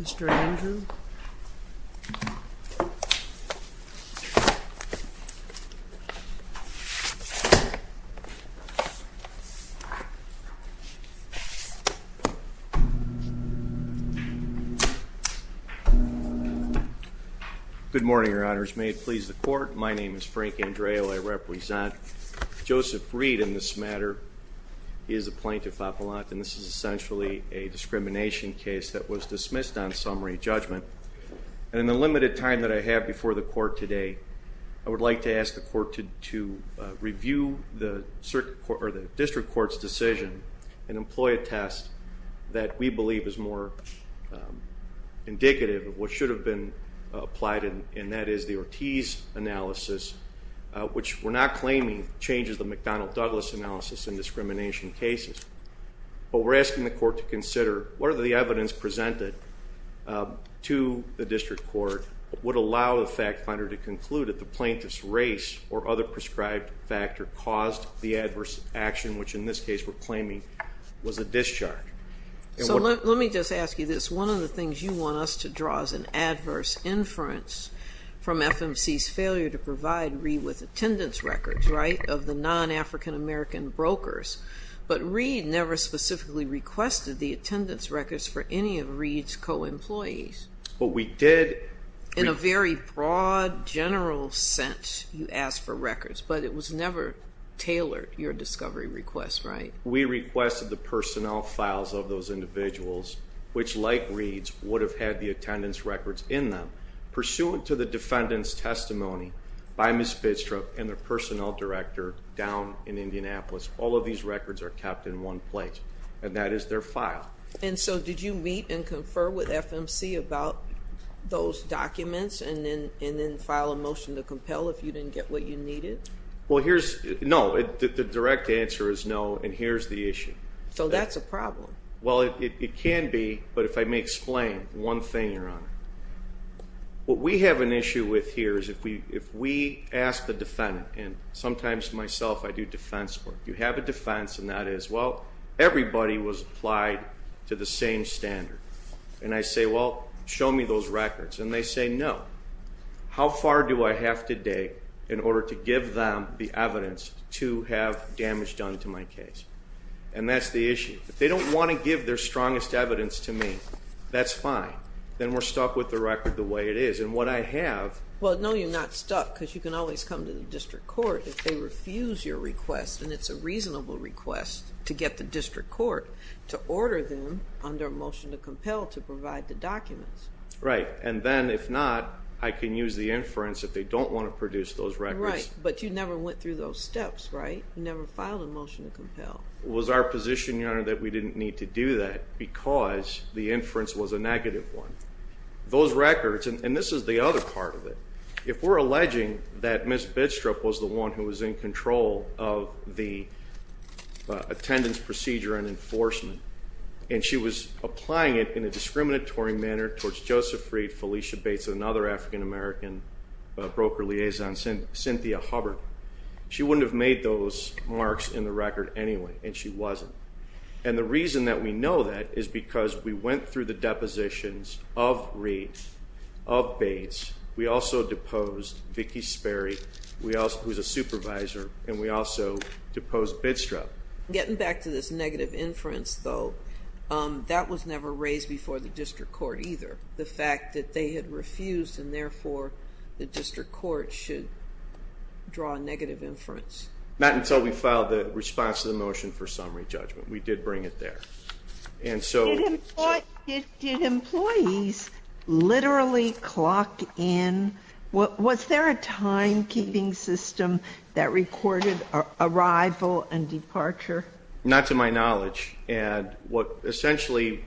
Mr. Andrew. Good morning, your honors. May it please the court, my name is Frank Andreo. I represent Joseph Reed in this matter. He is a plaintiff appellant and this is essentially a discrimination case that was dismissed on summary judgment. And in the limited time that I have before the court today, I would like to ask the court to review the district court's decision and employ a test that we believe is more indicative of what should have been applied, and that is the Ortiz analysis, which we're not claiming changes the We're asking the court to consider whether the evidence presented to the district court would allow the fact finder to conclude that the plaintiff's race or other prescribed factor caused the adverse action, which in this case we're claiming was a discharge. So let me just ask you this, one of the things you want us to draw as an adverse inference from FMC's failure to provide Reed with attendance records, right, of the non-African-American brokers, but Reed never specifically requested the attendance records for any of Reed's co-employees. But we did. In a very broad, general sense, you asked for records, but it was never tailored, your discovery request, right? We requested the personnel files of those individuals, which like Reed's, would have had the attendance records in them. Pursuant to the defendant's testimony by Ms. Bidstrup and the personnel director down in Indianapolis, all of these records are in one place, and that is their file. And so did you meet and confer with FMC about those documents and then file a motion to compel if you didn't get what you needed? Well here's, no, the direct answer is no, and here's the issue. So that's a problem. Well it can be, but if I may explain one thing, Your Honor. What we have an issue with here is if we ask the defendant, and sometimes myself I do defense work, you have a defense and that is, well, everybody was applied to the same standard. And I say, well, show me those records. And they say no. How far do I have to dig in order to give them the evidence to have damage done to my case? And that's the issue. If they don't want to give their strongest evidence to me, that's fine. Then we're stuck with the record the way it is. And what I have... Well no, you're not stuck, because you can always come to the court and refuse your request, and it's a reasonable request to get the district court to order them under a motion to compel to provide the documents. Right, and then if not, I can use the inference if they don't want to produce those records. Right, but you never went through those steps, right? You never filed a motion to compel. Was our position, Your Honor, that we didn't need to do that because the inference was a negative one. Those records, and this is the other part of it, if we're alleging that Ms. Bidstrup was the one who was in control of the attendance procedure and enforcement, and she was applying it in a discriminatory manner towards Joseph Reed, Felicia Bates, and another African-American broker liaison, Cynthia Hubbard, she wouldn't have made those marks in the record anyway, and she wasn't. And the reason that we know that is because we went through the depositions of Reed, of Bates, we also the supervisor, and we also deposed Bidstrup. Getting back to this negative inference, though, that was never raised before the district court either, the fact that they had refused and therefore the district court should draw a negative inference. Not until we filed the response to the motion for summary judgment. We did bring it there. And so... Did employees literally clock in? Was there a timekeeping system that recorded arrival and departure? Not to my knowledge, and what essentially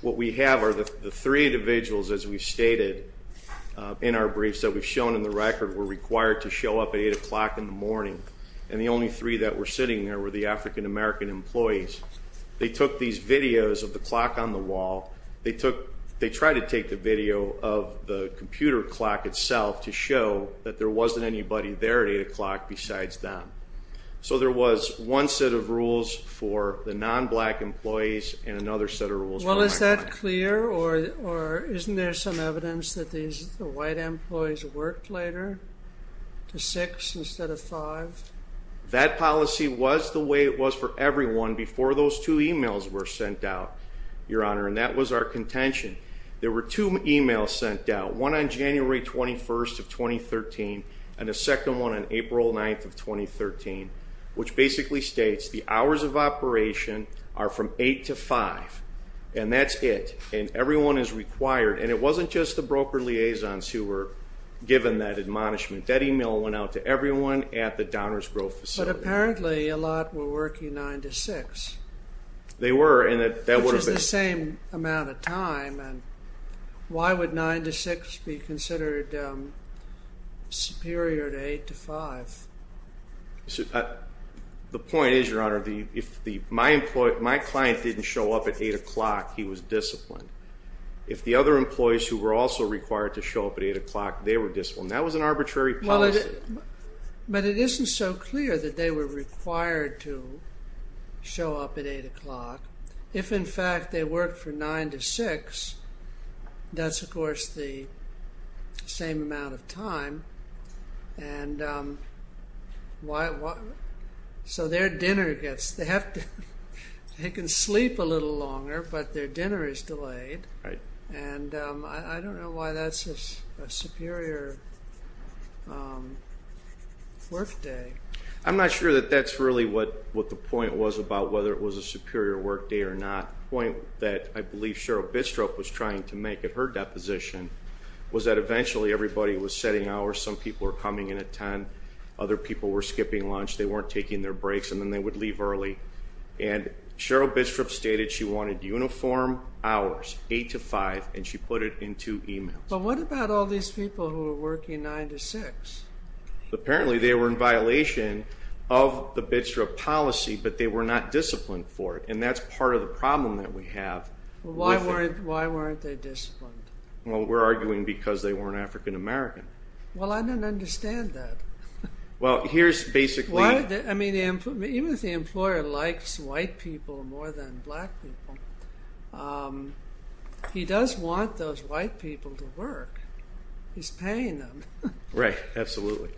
what we have are the three individuals, as we stated in our briefs that we've shown in the record, were required to show up at 8 o'clock in the morning, and the only three that were sitting there were the African-American employees. They took these videos of the clock on the wall, they took, they tried to take the video of the computer clock itself to show that there wasn't anybody there at 8 o'clock besides them. So there was one set of rules for the non-black employees and another set of rules... Well is that clear, or isn't there some evidence that these white employees worked later, to six instead of five? That policy was the way it was for everyone before those two emails were sent out, Your Honor, and that was our contention. There were two emails sent out, one on January 21st of 2013 and a second one on April 9th of 2013, which basically states the hours of operation are from 8 to 5, and that's it. And everyone is required, and it wasn't just the broker liaisons who were given that admonishment. That email went out to everyone at the Downers Grove facility. But apparently a lot were working 9 to 6. They were, and that would have been... Which is the same amount of time, and why would 9 to 6 be considered superior to 8 to 5? The point is, Your Honor, if my employee, my client didn't show up at 8 o'clock, he was disciplined. If the other employees who were also required to show up at 8 o'clock, they were disciplined. That was an arbitrary policy. But it isn't so clear that they were required to show up at 8 o'clock. If, in fact, they worked for 9 to 6, that's, of course, the same amount of time, and why... So, their dinner gets... They have to... They can sleep a little longer, but their I don't know why that's a superior workday. I'm not sure that that's really what the point was about whether it was a superior workday or not. The point that I believe Cheryl Bistrop was trying to make at her deposition was that eventually everybody was setting hours. Some people were coming in at 10. Other people were skipping lunch. They weren't taking their breaks, and then they would leave early. Cheryl Bistrop stated she wanted uniform hours, 8 to 5, and she put it in two emails. But what about all these people who were working 9 to 6? Apparently, they were in violation of the Bistrop policy, but they were not disciplined for it, and that's part of the problem that we have. Why weren't they disciplined? Well, we're arguing because they weren't African American. Well, I don't understand that. Well, here's basically... Even if the employer likes white people more than black people, he does want those white people to work. He's paying them. Right, absolutely.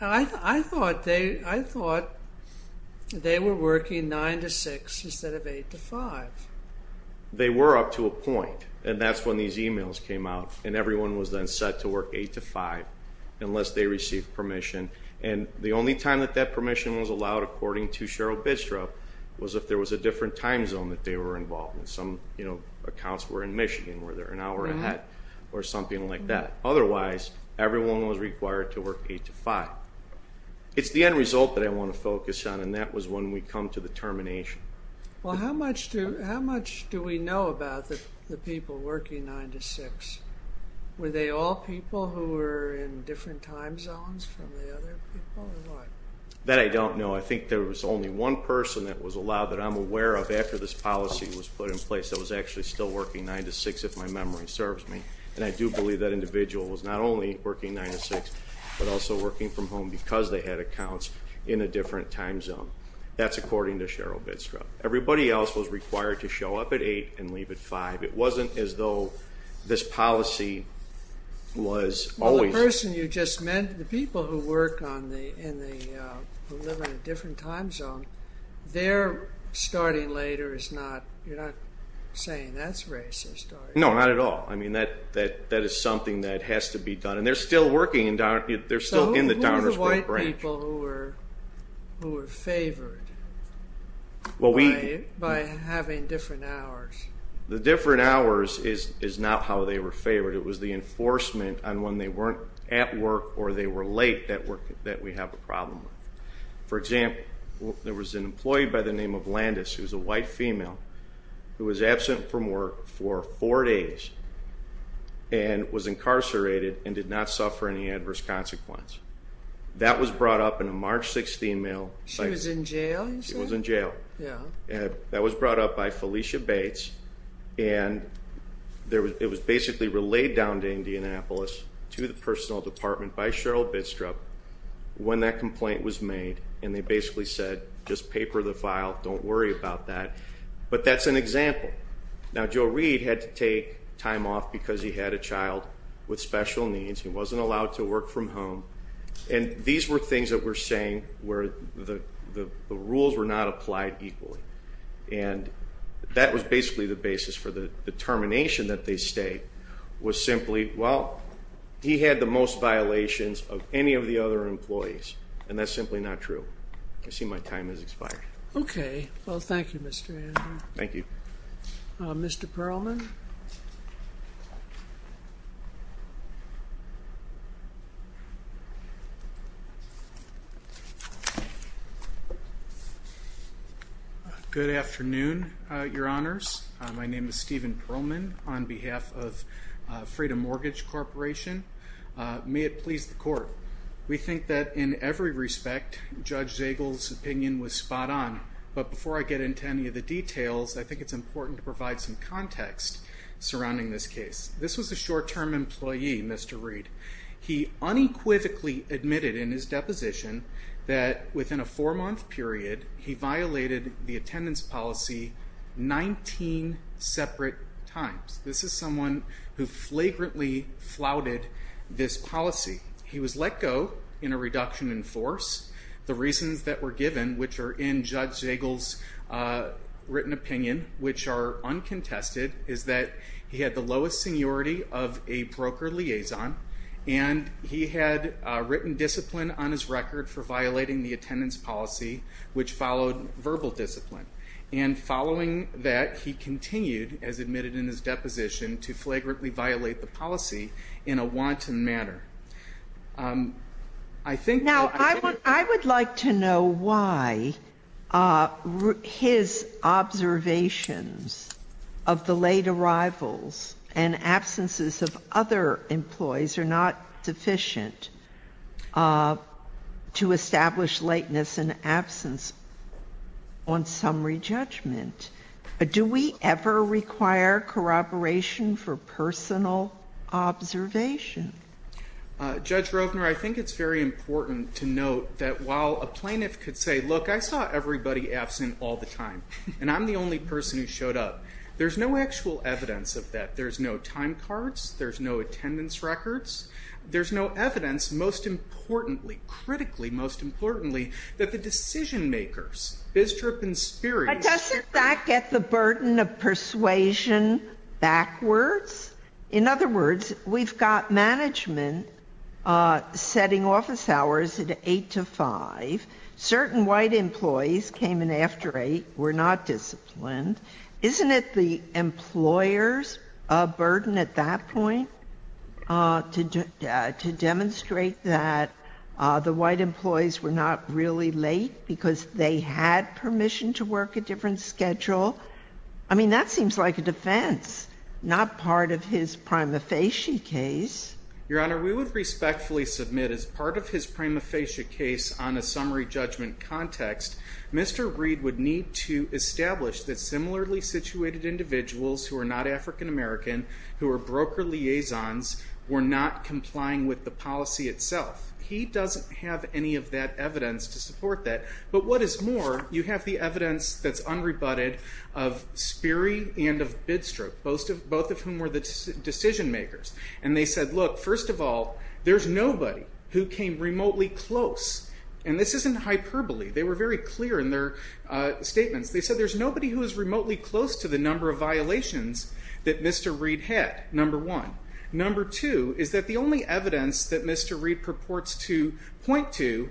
I thought they were working 9 to 6 instead of 8 to 5. They were up to a point, and that's when these emails came out, and everyone was then set to work 8 to 5 unless they received permission. And the only time that that permission was allowed, according to Cheryl Bistrop, was if there was a different time zone that they were involved in. Some accounts were in Michigan where they're an hour ahead or something like that. Otherwise, everyone was required to work 8 to 5. It's the end result that I want to focus on, and that was when we come to the termination. Well, how much do we know about the people working 9 to 6? Were they all people who were in different time zones from the other people, or what? That I don't know. I think there was only one person that was allowed that I'm aware of after this policy was put in place that was actually still working 9 to 6, if my memory serves me. And I do believe that individual was not only working 9 to 6, but also working from home because they had accounts in a different time zone. That's according to Cheryl Bistrop. Everybody else was required to show up at 8 and leave at 5. It wasn't as though this policy was always... Well, the person you just meant, the people who work in the... who live in a different time zone, their starting later is not... you're not saying that's racist, are you? No, not at all. I mean, that is something that has to be done. And they're still working in the Downersville branch. So who were the white people who were favored by having different hours? The different hours is not how they were favored. It was the enforcement on when they weren't at work or they were late that we have a problem with. For example, there was an employee by the name of Landis who was a white female who was absent from work for four days and was incarcerated and did not suffer any adverse consequence. That was brought up in a March 16 mail... She was in jail, you said? She was in jail. Yeah. That was brought up by Felicia Bates, and it was basically relayed down to Indianapolis to the personal department by Cheryl Bidstrup when that complaint was made, and they basically said, just paper the file, don't worry about that. But that's an example. Now, Joe Reed had to take time off because he had a child with special needs. He wasn't allowed to work from home. And these were things that were saying where the rules were not applied equally, and that was basically the basis for the determination that they state was simply, well, he had the most violations of any of the other employees, and that's simply not true. I see my time has expired. Okay. Well, thank you, Mr. Andrew. Thank you. Mr. Perlman? Good afternoon, Your Honors. My name is Stephen Perlman on behalf of Freedom Mortgage Corporation. May it please the Court, we think that in every respect Judge Zagel's opinion was spot on. But before I get into any of the details, I think it's important to provide some context surrounding this case. This was a short-term employee, Mr. Reed. He unequivocally admitted in his deposition that within a four-month period, he violated the attendance policy 19 separate times. This is someone who flagrantly flouted this policy. He was let go in a reduction in force. The reasons that were given, which are in Judge Zagel's written opinion, which are uncontested, is that he had the lowest seniority of a broker liaison, and he had written discipline on his record for violating the attendance policy, which followed verbal discipline. And following that, he continued, as admitted in his deposition, to flagrantly violate the policy in a wanton manner. Now, I would like to know why his observations of the late arrivals and absences of other employees are not sufficient to establish lateness and absence on summary judgment. Do we ever require corroboration for personal observation? Judge Rovner, I think it's very important to note that while a plaintiff could say, look, I saw everybody absent all the time, and I'm the only person who showed up, there's no actual evidence of that. There's no time cards. There's no attendance records. There's no evidence, most importantly, critically, most importantly, that the decision makers, Bistrop and Sperry, But doesn't that get the burden of persuasion backwards? In other words, we've got management setting office hours at 8 to 5. Certain white employees came in after 8, were not disciplined. Isn't it the employer's burden at that point to demonstrate that the white employees were not really late because they had permission to work a different schedule? I mean, that seems like a defense, not part of his prima facie case. Your Honor, we would respectfully submit as part of his prima facie case on a summary judgment context, Mr. Reed would need to establish that similarly situated individuals who are not African American, who are broker liaisons, were not complying with the policy itself. He doesn't have any of that evidence to support that. But what is more, you have the evidence that's unrebutted of Sperry and of Bistrop, both of whom were the decision makers. And they said, look, first of all, there's nobody who came remotely close. And this isn't hyperbole. They were very clear in their statements. They said there's nobody who is remotely close to the number of violations that Mr. Reed had, number one. Number two is that the only evidence that Mr. Reed purports to point to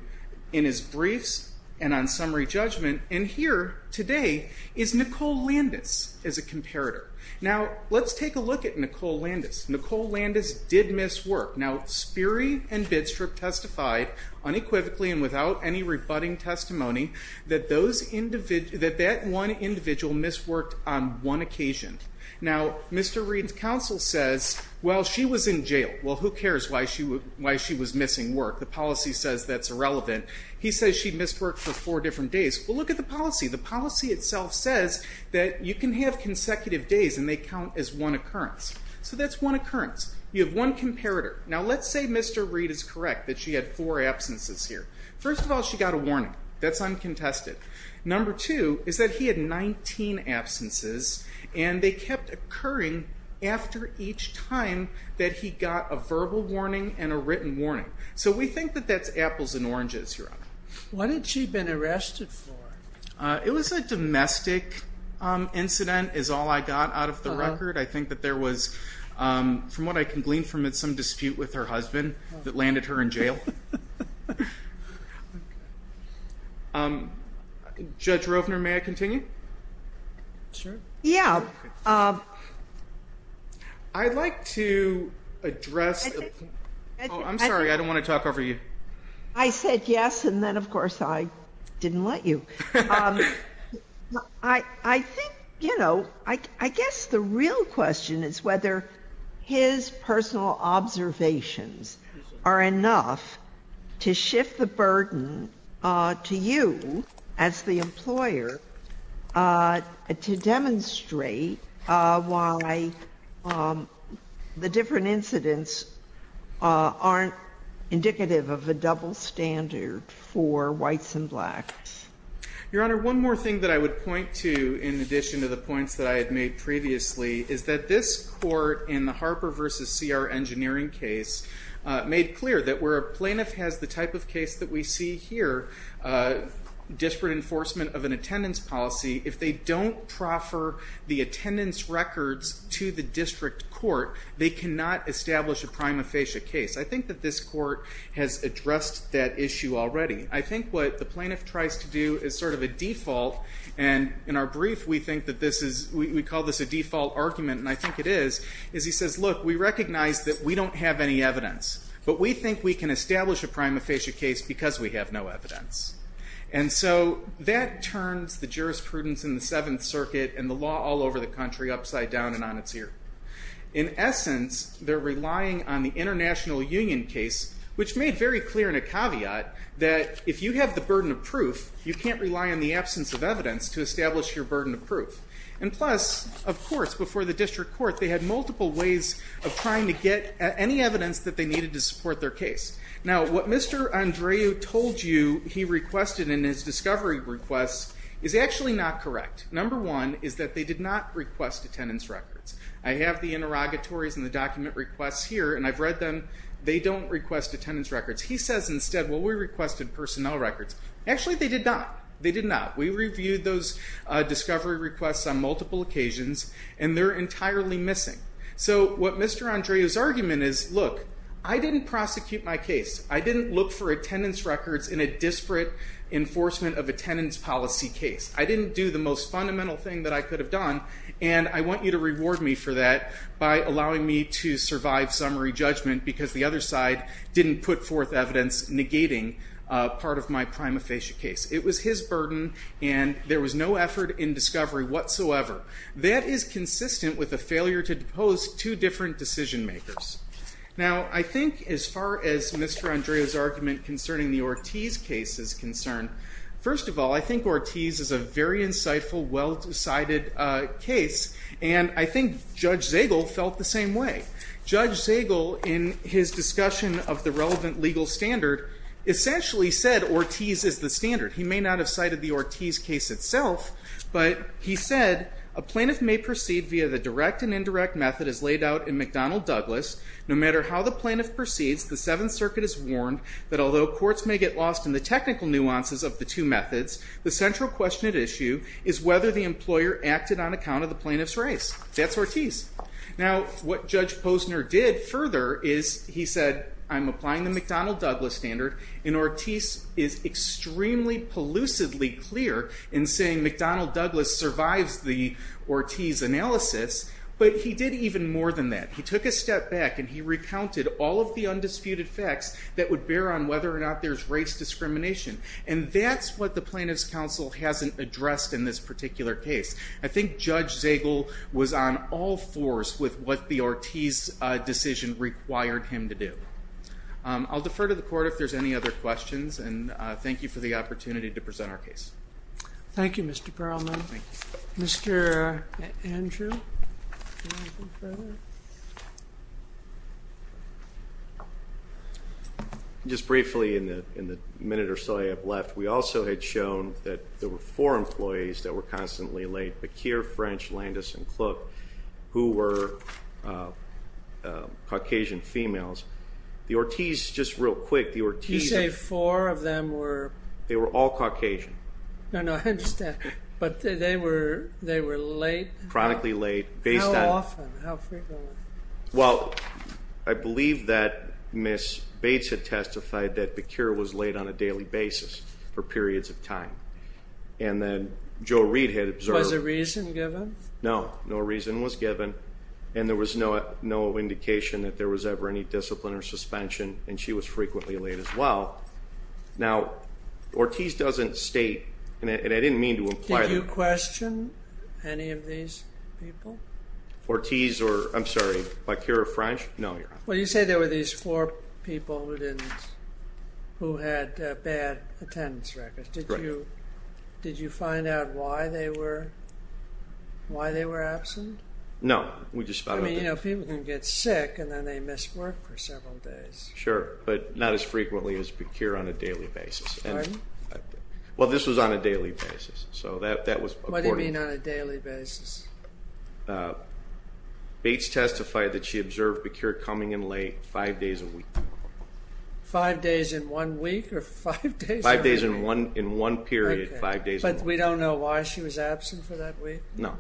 in his case, and on summary judgment, and here today, is Nicole Landis as a comparator. Now, let's take a look at Nicole Landis. Nicole Landis did miswork. Now, Sperry and Bistrop testified unequivocally and without any rebutting testimony that that one individual misworked on one occasion. Now, Mr. Reed's counsel says, well, she was in jail. Well, who cares why she was missing work? The policy says that's irrelevant. He says she misworked for four different days. Well, look at the policy. The policy itself says that you can have consecutive days, and they count as one occurrence. So that's one occurrence. You have one comparator. Now, let's say Mr. Reed is correct that she had four absences here. First of all, she got a warning. That's uncontested. Number two is that he had 19 absences, and they kept occurring after each time that he got a verbal warning and a written warning. So we think that that's apples and oranges, Your Honor. What had she been arrested for? It was a domestic incident is all I got out of the record. I think that there was, from what I can glean from it, some dispute with her husband that landed her in jail. Judge Rovner, may I continue? Sure. Yeah. I'd like to address. I'm sorry. I don't want to talk over you. I said yes, and then, of course, I didn't let you. I think, you know, I guess the real question is whether his personal observations are enough to shift the burden to you as the employer to demonstrate why the different incidents aren't indicative of a double standard for whites and blacks. Your Honor, one more thing that I would point to in addition to the points that I had made previously is that this Court in the Harper v. C.R. Engineering case made clear that where a plaintiff has the type of case that we see here, disparate enforcement of an attendance policy, if they don't proffer the attendance records to the district court, they cannot establish a prima facie case. I think that this Court has addressed that issue already. I think what the plaintiff tries to do is sort of a default, and in our brief, we think that this is, we call this a default argument, and I think it is, is he says, look, we recognize that we don't have any evidence, but we think we can establish a prima facie case because we have no evidence. And so that turns the jurisprudence in the Seventh Circuit and the law all over the country upside down and on its ear. In essence, they're relying on the international union case, which made very clear in a caveat that if you have the burden of proof, you can't rely on the absence of evidence to establish your burden of proof. And plus, of course, before the district court, they had multiple ways of trying to get any evidence that they needed to support their case. Now, what Mr. Andreu told you he requested in his discovery request is actually not correct. Number one is that they did not request attendance records. I have the interrogatories and the document requests here, and I've read them. They don't request attendance records. He says instead, well, we requested personnel records. Actually, they did not. They did not. We reviewed those discovery requests on multiple occasions, and they're entirely missing. So what Mr. Andreu's argument is, look, I didn't prosecute my case. I didn't look for attendance records in a disparate enforcement of attendance policy case. I didn't do the most fundamental thing that I could have done, and I want you to reward me for that by allowing me to survive summary judgment because the other side didn't put forth evidence negating part of my prima facie case. It was his burden, and there was no effort in discovery whatsoever. That is consistent with a failure to depose two different decision makers. Now, I think as far as Mr. Andreu's argument concerning the Ortiz case is concerned, first of all, I think Ortiz is a very insightful, well-decided case, and I think Judge Zagel felt the same way. Judge Zagel, in his discussion of the relevant legal standard, essentially said Ortiz is the standard. He may not have cited the Ortiz case itself, but he said, A plaintiff may proceed via the direct and indirect method as laid out in McDonnell-Douglas. No matter how the plaintiff proceeds, the Seventh Circuit is warned that although courts may get lost in the technical nuances of the two methods, the central question at issue is whether the employer acted on account of the plaintiff's race. That's Ortiz. Now, what Judge Posner did further is he said, I'm applying the McDonnell- Douglas case. He was implicitly clear in saying McDonnell-Douglas survives the Ortiz analysis, but he did even more than that. He took a step back and he recounted all of the undisputed facts that would bear on whether or not there's race discrimination, and that's what the Plaintiff's Counsel hasn't addressed in this particular case. I think Judge Zagel was on all fours with what the Ortiz decision required him to do. I'll defer to the Court if there's any other questions, and thank you for the opportunity to present our case. Thank you, Mr. Perlman. Thank you. Mr. Andrew, do you want to go further? Just briefly, in the minute or so I have left, we also had shown that there were four employees that were constantly late, Bakir, French, Landis, and Kluck, who were Caucasian females. The Ortiz, just real quick, the Ortiz. You say four of them were? They were all Caucasian. No, no, I understand. But they were late? Chronically late. How often? How frequently? Well, I believe that Ms. Bates had testified that Bakir was late on a daily basis for periods of time, and then Joe Reed had observed. Was a reason given? No, no reason was given, and there was no indication that there was ever any discipline or suspension, and she was frequently late as well. Now, Ortiz doesn't state, and I didn't mean to imply that. Did you question any of these people? Ortiz or, I'm sorry, Bakir or French? No, Your Honor. Well, you said there were these four people who had bad attendance records. Did you find out why they were absent? No. I mean, you know, people can get sick and then they miss work for several days. Sure, but not as frequently as Bakir on a daily basis. Pardon? Well, this was on a daily basis. What do you mean on a daily basis? Bates testified that she observed Bakir coming in late five days a week. Five days in one week or five days every week? Five days in one period, five days in one period. But we don't know why she was absent for that week? No.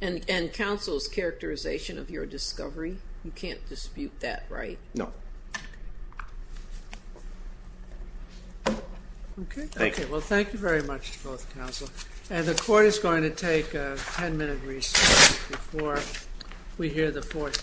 And counsel's characterization of your discovery, you can't dispute that, right? No. Okay. Well, thank you very much to both counsel. And the court is going to take a ten-minute recess before we hear the fourth argument.